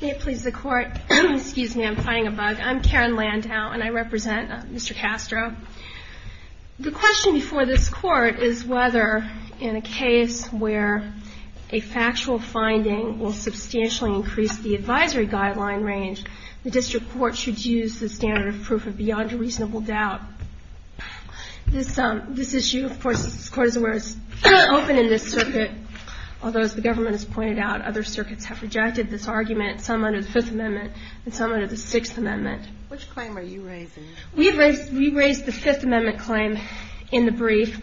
May it please the court, excuse me, I'm finding a bug. I'm Karen Landau and I represent Mr. Castro. The question before this court is whether, in a case where a factual finding will substantially increase the advisory guideline range, the district court should use the standard of proof of beyond a reasonable doubt. This issue, of course, this court is open in this circuit, although as the government has pointed out, is not open in this circuit. And I think it's important for the district court to be able to use the standard of proof of beyond a reasonable doubt. As I pointed out, other circuits have rejected this argument, some under the Fifth Amendment and some under the Sixth Amendment. Which claim are you raising? We raised the Fifth Amendment claim in the brief.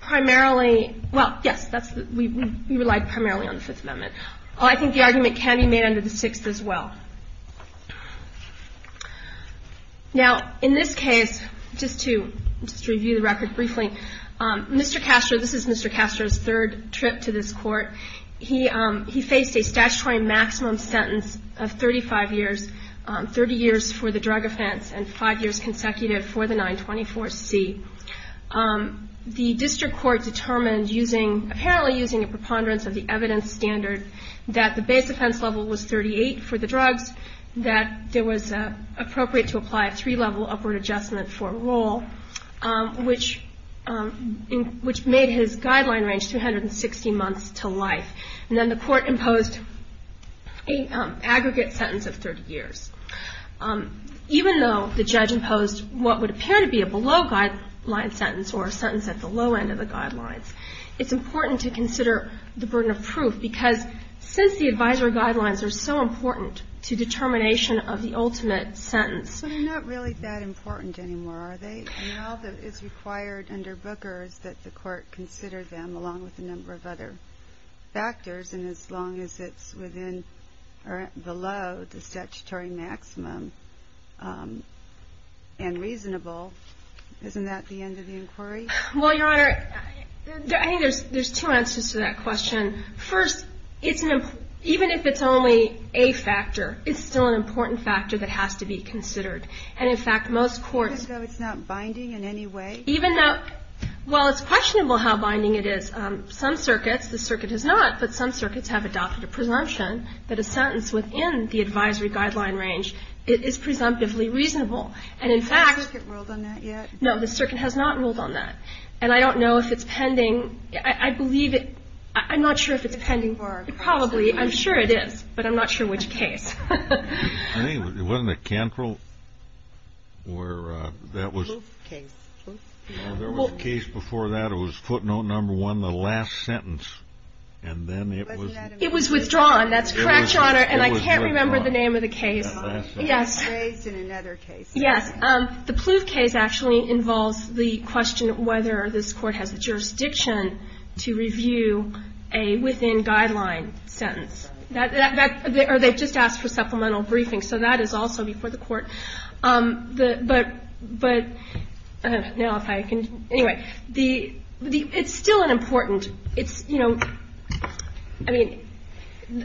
Primarily, well, yes, we relied primarily on the Fifth Amendment. I think the argument can be made under the Sixth as well. Now, in this case, just to review the record briefly, Mr. Castro, this is Mr. Castro's third trip to this court. He faced a statutory maximum sentence of 35 years, 30 years for the drug offense and five years consecutive for the 924C. The district court determined, apparently using a preponderance of the evidence standard, that the base offense level was 38 for the drugs, that it was appropriate to apply a three-level upward adjustment for a role, which made his guideline range 360 months to life. And then the court imposed an aggregate sentence of 30 years. Even though the judge imposed what would appear to be a below-guideline sentence or a sentence at the low end of the guidelines, it's important to consider the burden of proof, because since the advisory guidelines are so important to determination of the ultimate sentence. So they're not really that important anymore, are they? Now that it's required under Booker's that the court consider them, along with a number of other factors, and as long as it's within or below the statutory maximum and reasonable, isn't that the end of the inquiry? Well, Your Honor, I think there's two answers to that question. First, even if it's only a factor, it's still an important factor that has to be considered. And, in fact, most courts — Even though it's not binding in any way? Even though — well, it's questionable how binding it is. Some circuits, the circuit has not, but some circuits have adopted a presumption that a sentence within the advisory guideline range is presumptively reasonable. And, in fact — Has the circuit ruled on that yet? No, the circuit has not ruled on that. And I don't know if it's pending. I believe it — I'm not sure if it's pending. It's probably — I'm sure it is, but I'm not sure which case. I think — wasn't it Cantrell, where that was — The Plouffe case. There was a case before that. It was footnote number one, the last sentence. And then it was — It was withdrawn. That's correct, Your Honor. And I can't remember the name of the case. It was withdrawn. Yes. It was raised in another case. Yes. The Plouffe case actually involves the question of whether this Court has the jurisdiction to review a within-guideline sentence. That — or they just asked for supplemental briefing. So that is also before the Court. But — but — now, if I can — anyway, the — it's still an important — it's, you know — I mean,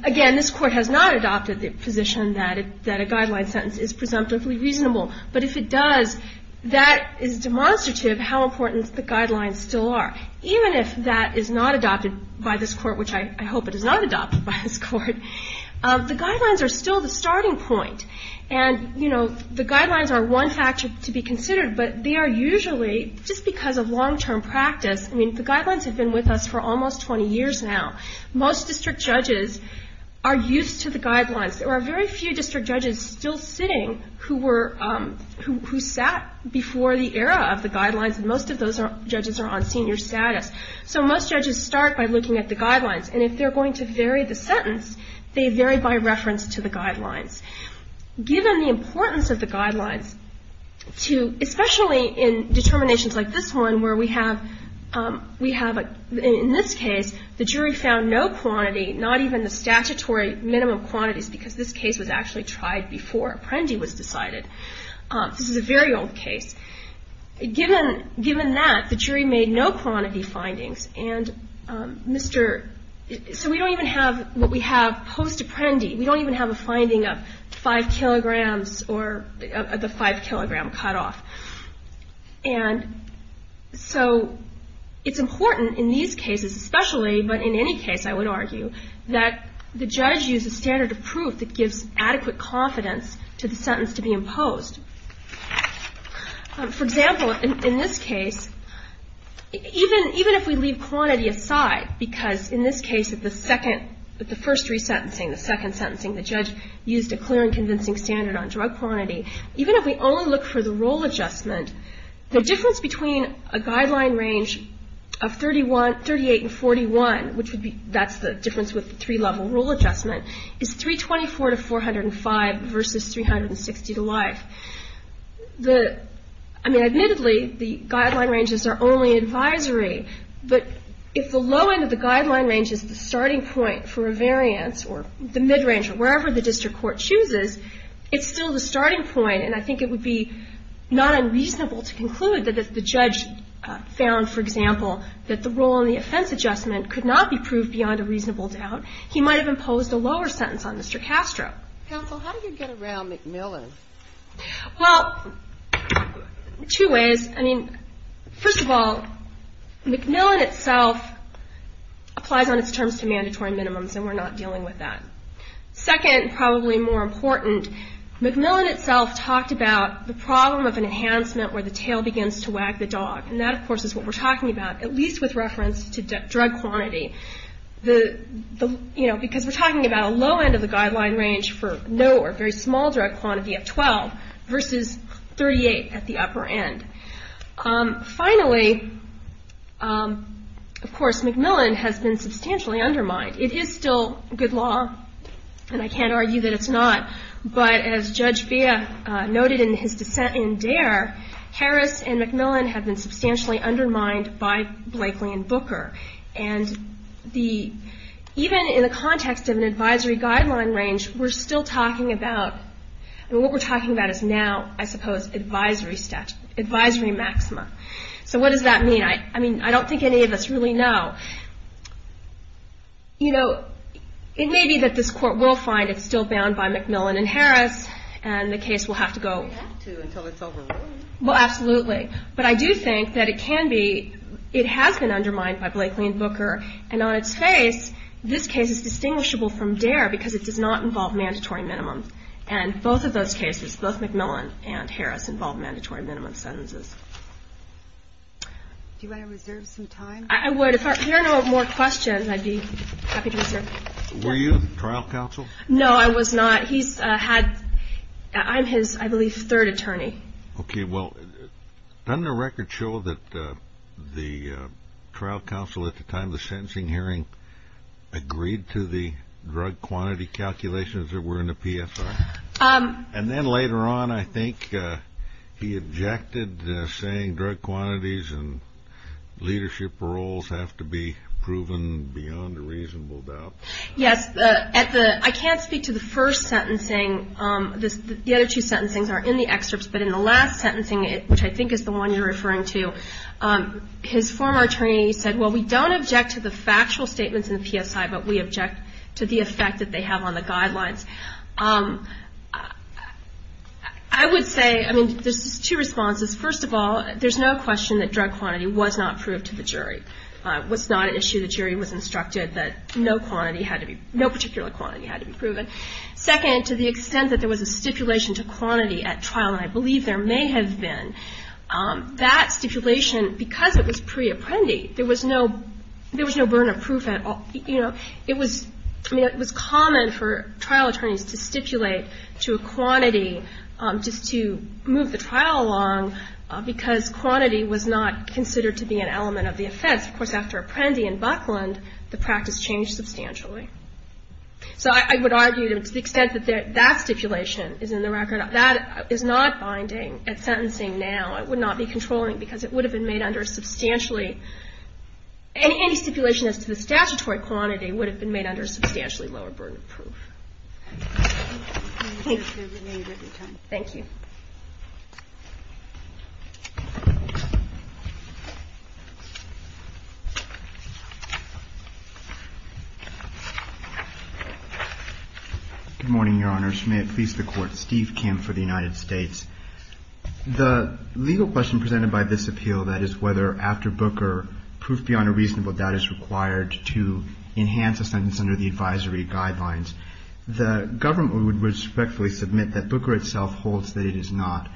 again, this Court has not adopted the position that it — that a guideline sentence is presumptively reasonable. But if it does, that is demonstrative how important the guidelines still are. Even if that is not adopted by this Court, which I hope it is not adopted by this Court, the guidelines are still the starting point. And, you know, the guidelines are one factor to be considered. But they are usually — just because of long-term practice — I mean, the guidelines have been with us for almost 20 years now. Most district judges are used to the guidelines. There are very few district judges still sitting who were — who sat before the era of the guidelines. And most of those judges are on senior status. So most judges start by looking at the guidelines. And if they're going to vary the sentence, they vary by reference to the guidelines. Given the importance of the guidelines to — especially in determinations like this one, where we have — we have a — we found no quantity, not even the statutory minimum quantities, because this case was actually tried before Apprendi was decided. This is a very old case. Given — given that, the jury made no quantity findings. And Mr. — so we don't even have what we have post-Apprendi. We don't even have a finding of 5 kilograms or the 5-kilogram cutoff. And so it's important in these cases especially, but in any case, I would argue, that the judge use a standard of proof that gives adequate confidence to the sentence to be imposed. For example, in this case, even — even if we leave quantity aside, because in this case, the second — the first resentencing, the second sentencing, the judge used a clear and convincing standard on drug quantity. Even if we only look for the rule adjustment, the difference between a guideline range of 31 — 38 and 41, which would be — that's the difference with the three-level rule adjustment, is 324 to 405 versus 360 to life. The — I mean, admittedly, the guideline ranges are only advisory, but if the low end of the guideline range is the starting point for a variance, or the mid-range, or wherever the district court chooses, it's still the starting point, and I think it would be not unreasonable to conclude that if the judge found, for example, that the rule on the offense adjustment could not be proved beyond a reasonable doubt, he might have imposed a lower sentence on Mr. Castro. Counsel, how do you get around McMillan? Well, two ways. I mean, first of all, McMillan itself applies on its terms to mandatory minimums, and we're not dealing with that. Second, probably more important, McMillan itself talked about the problem of an enhancement where the tail begins to wag the dog, and that, of course, is what we're talking about, at least with reference to drug quantity, because we're talking about a low end of the guideline range for no or very small drug quantity at 12 versus 38 at the upper end. Finally, of course, McMillan has been substantially undermined. It is still good law, and I can't argue that it's not, but as Judge Beha noted in his dissent in Dare, Harris and McMillan have been substantially undermined by Blakely and Booker, and even in the context of an advisory guideline range, we're still talking about, I mean, what we're talking about is now, I suppose, advisory maxima. So what does that mean? I mean, I don't think any of us really know. You know, it may be that this Court will find it's still bound by McMillan and Harris, and the case will have to go. Well, absolutely, but I do think that it can be, it has been undermined by Blakely and Booker, and on its face, this case is distinguishable from Dare because it does not involve mandatory minimums, and both of those cases, both McMillan and Harris, involve mandatory minimum sentences. Do you want to reserve some time? I would. If there are no more questions, I'd be happy to reserve. Were you on the trial counsel? No, I was not. He's had, I'm his, I believe, third attorney. Okay, well, doesn't the record show that the trial counsel at the time of the sentencing hearing agreed to the drug quantity calculations that were in the PSR? And then later on, I think he objected, saying drug quantities and leadership roles have to be proven beyond a reasonable doubt. Yes. I can't speak to the first sentencing. The other two sentencings are in the excerpts, but in the last sentencing, which I think is the one you're referring to, his former attorney said, well, we don't object to the factual statements in the PSI, but we object to the effect that they have on the guidelines. I would say, I mean, there's two responses. First of all, there's no question that drug quantity was not proved to the jury. It was not an issue the jury was instructed that no quantity had to be, no particular quantity had to be proven. Second, to the extent that there was a stipulation to quantity at trial, and I believe there may have been, that stipulation, because it was pre-apprendi, there was no, there was no burn of proof at all. You know, it was, I mean, it was common for trial attorneys to stipulate to a quantity just to move the trial along because quantity was not considered to be an element of the offense. Of course, after apprendi in Buckland, the practice changed substantially. So I would argue to the extent that that stipulation is in the record, that is not binding at sentencing now. It would not be controlling because it would have been made under a substantially, any stipulation as to the statutory quantity would have been made under a substantially lower burn of proof. Thank you. Good morning, Your Honors. May it please the Court. Steve Kim for the United States. The legal question presented by this appeal, that is whether after Booker, proof beyond a reasonable doubt is required to enhance a sentence under the advisory guidelines, the government would respectfully submit that Booker itself holds that it is not.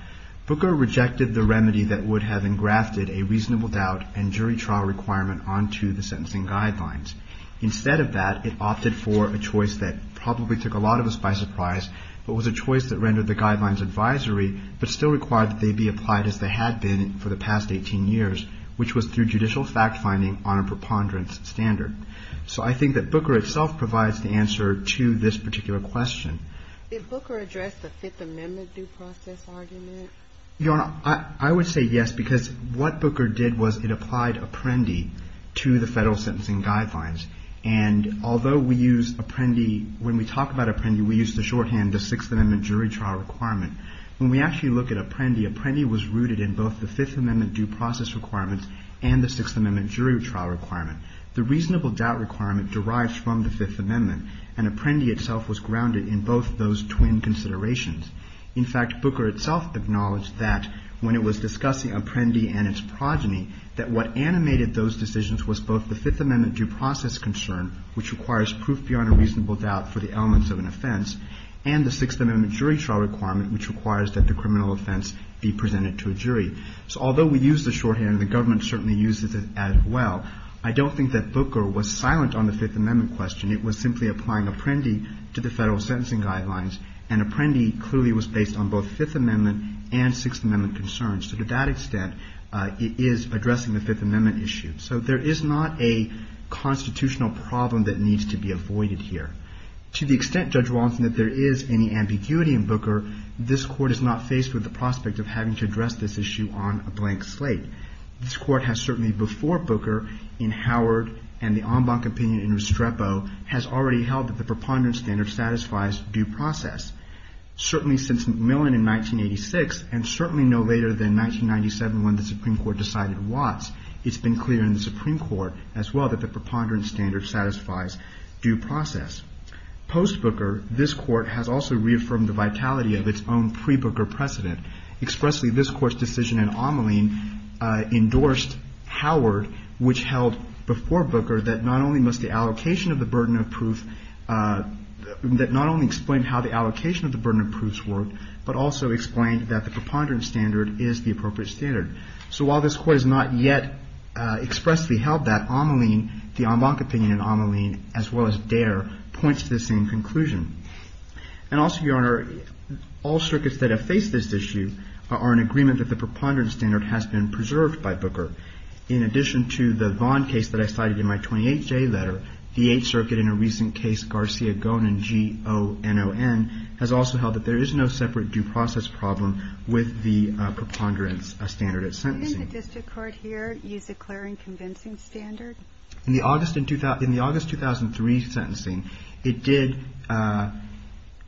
Booker rejected the remedy that would have engrafted a reasonable doubt and jury trial requirement onto the sentencing guidelines. Instead of that, it opted for a choice that probably took a lot of us by surprise, but was a choice that rendered the guidelines advisory, but still required that they be applied as they had been for the past 18 years, which was through judicial fact finding on a preponderance standard. So I think that Booker itself provides the answer to this particular question. Did Booker address the Fifth Amendment due process argument? Your Honor, I would say yes, because what Booker did was it applied Apprendi to the federal sentencing guidelines. And although we use Apprendi, when we talk about Apprendi, we use the shorthand, the Sixth Amendment jury trial requirement. When we actually look at Apprendi, Apprendi was rooted in both the Fifth Amendment due process requirements and the Sixth Amendment jury trial requirement. The reasonable doubt requirement derives from the Fifth Amendment, and Apprendi itself was grounded in both those twin considerations. In fact, Booker itself acknowledged that when it was discussing Apprendi and its progeny, that what animated those decisions was both the Fifth Amendment due process concern, which requires proof beyond a reasonable doubt for the elements of an offense, and the Sixth Amendment jury trial requirement, which requires that the criminal offense be presented to a jury. So although we use the shorthand, and the government certainly uses it as well, I don't think that Booker was silent on the Fifth Amendment question. It was simply applying Apprendi to the federal sentencing guidelines, and Apprendi clearly was based on both Fifth Amendment and Sixth Amendment concerns. So to that extent, it is addressing the Fifth Amendment issue. So there is not a constitutional problem that needs to be avoided here. To the extent, Judge Wallinson, that there is any ambiguity in Booker, this Court is not faced with the prospect of having to address this issue on a blank slate. This Court has certainly, before Booker, in Howard, and the en banc opinion in Restrepo, has already held that the preponderance standard satisfies due process. Certainly since McMillan in 1986, and certainly no later than 1997 when the Supreme Court decided Watts, it's been clear in the Supreme Court as well that the preponderance standard satisfies due process. Post-Booker, this Court has also reaffirmed the vitality of its own pre-Booker precedent. Expressly, this Court's decision in Ameline endorsed Howard, which held before Booker that not only must the allocation of the burden of proof, that not only explained how the allocation of the burden of proofs worked, but also explained that the preponderance standard is the appropriate standard. So while this Court has not yet expressly held that, Ameline, the en banc opinion in Ameline, as well as Dare, points to the same conclusion. And also, Your Honor, all circuits that have faced this issue are in agreement that the preponderance standard has been preserved by Booker. In addition to the Vaughn case that I cited in my 28th day letter, the Eighth Circuit in a recent case, Garcia-Gonon, G-O-N-O-N, has also held that there is no separate due process problem with the preponderance standard at sentencing. Didn't the district court here use a clearing convincing standard? In the August 2003 sentencing, it did.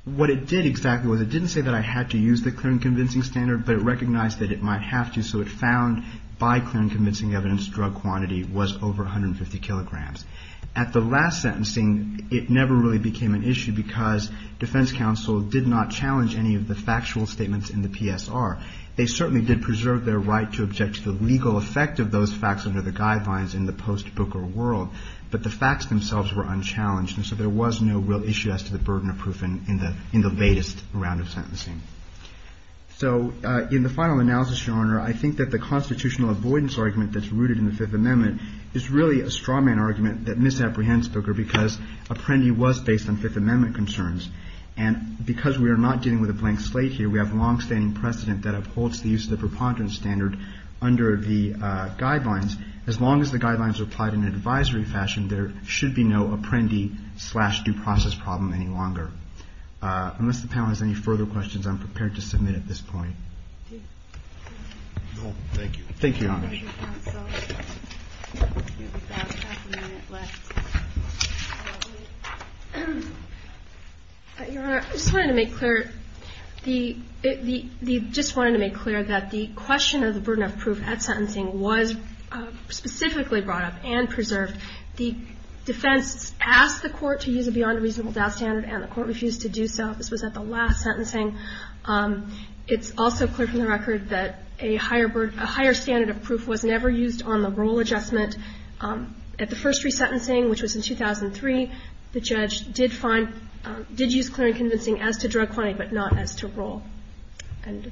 What it did exactly was it didn't say that I had to use the clearing convincing standard, but it recognized that it might have to, so it found by clearing convincing evidence drug quantity was over 150 kilograms. At the last sentencing, it never really became an issue because defense counsel did not challenge any of the factual statements in the PSR. They certainly did preserve their right to object to the legal effect of those facts under the guidelines in the post-Booker world, but the facts themselves were unchallenged, and so there was no real issue as to the burden of proof in the latest round of sentencing. So in the final analysis, Your Honor, I think that the constitutional avoidance argument that's rooted in the Fifth Amendment is really a strawman argument that misapprehends Booker because Apprendi was based on Fifth Amendment concerns, and because we are not dealing with a blank slate here, we have longstanding precedent that upholds the use of the preponderance standard under the guidelines. As long as the guidelines are applied in an advisory fashion, there should be no Apprendi-slash-due process problem any longer. Unless the panel has any further questions, I'm prepared to submit at this point. No, thank you. Thank you, Your Honor. Your Honor, I just wanted to make clear that the question of the burden of proof at sentencing was specifically brought up and preserved. The defense asked the court to use a beyond reasonable doubt standard, and the court refused to do so. This was at the last sentencing. It's also clear from the record that a higher standard of proof was never used on the rule adjustment. At the first resentencing, which was in 2003, the judge did use clear and convincing as to drug quantity, but not as to rule. Thank you.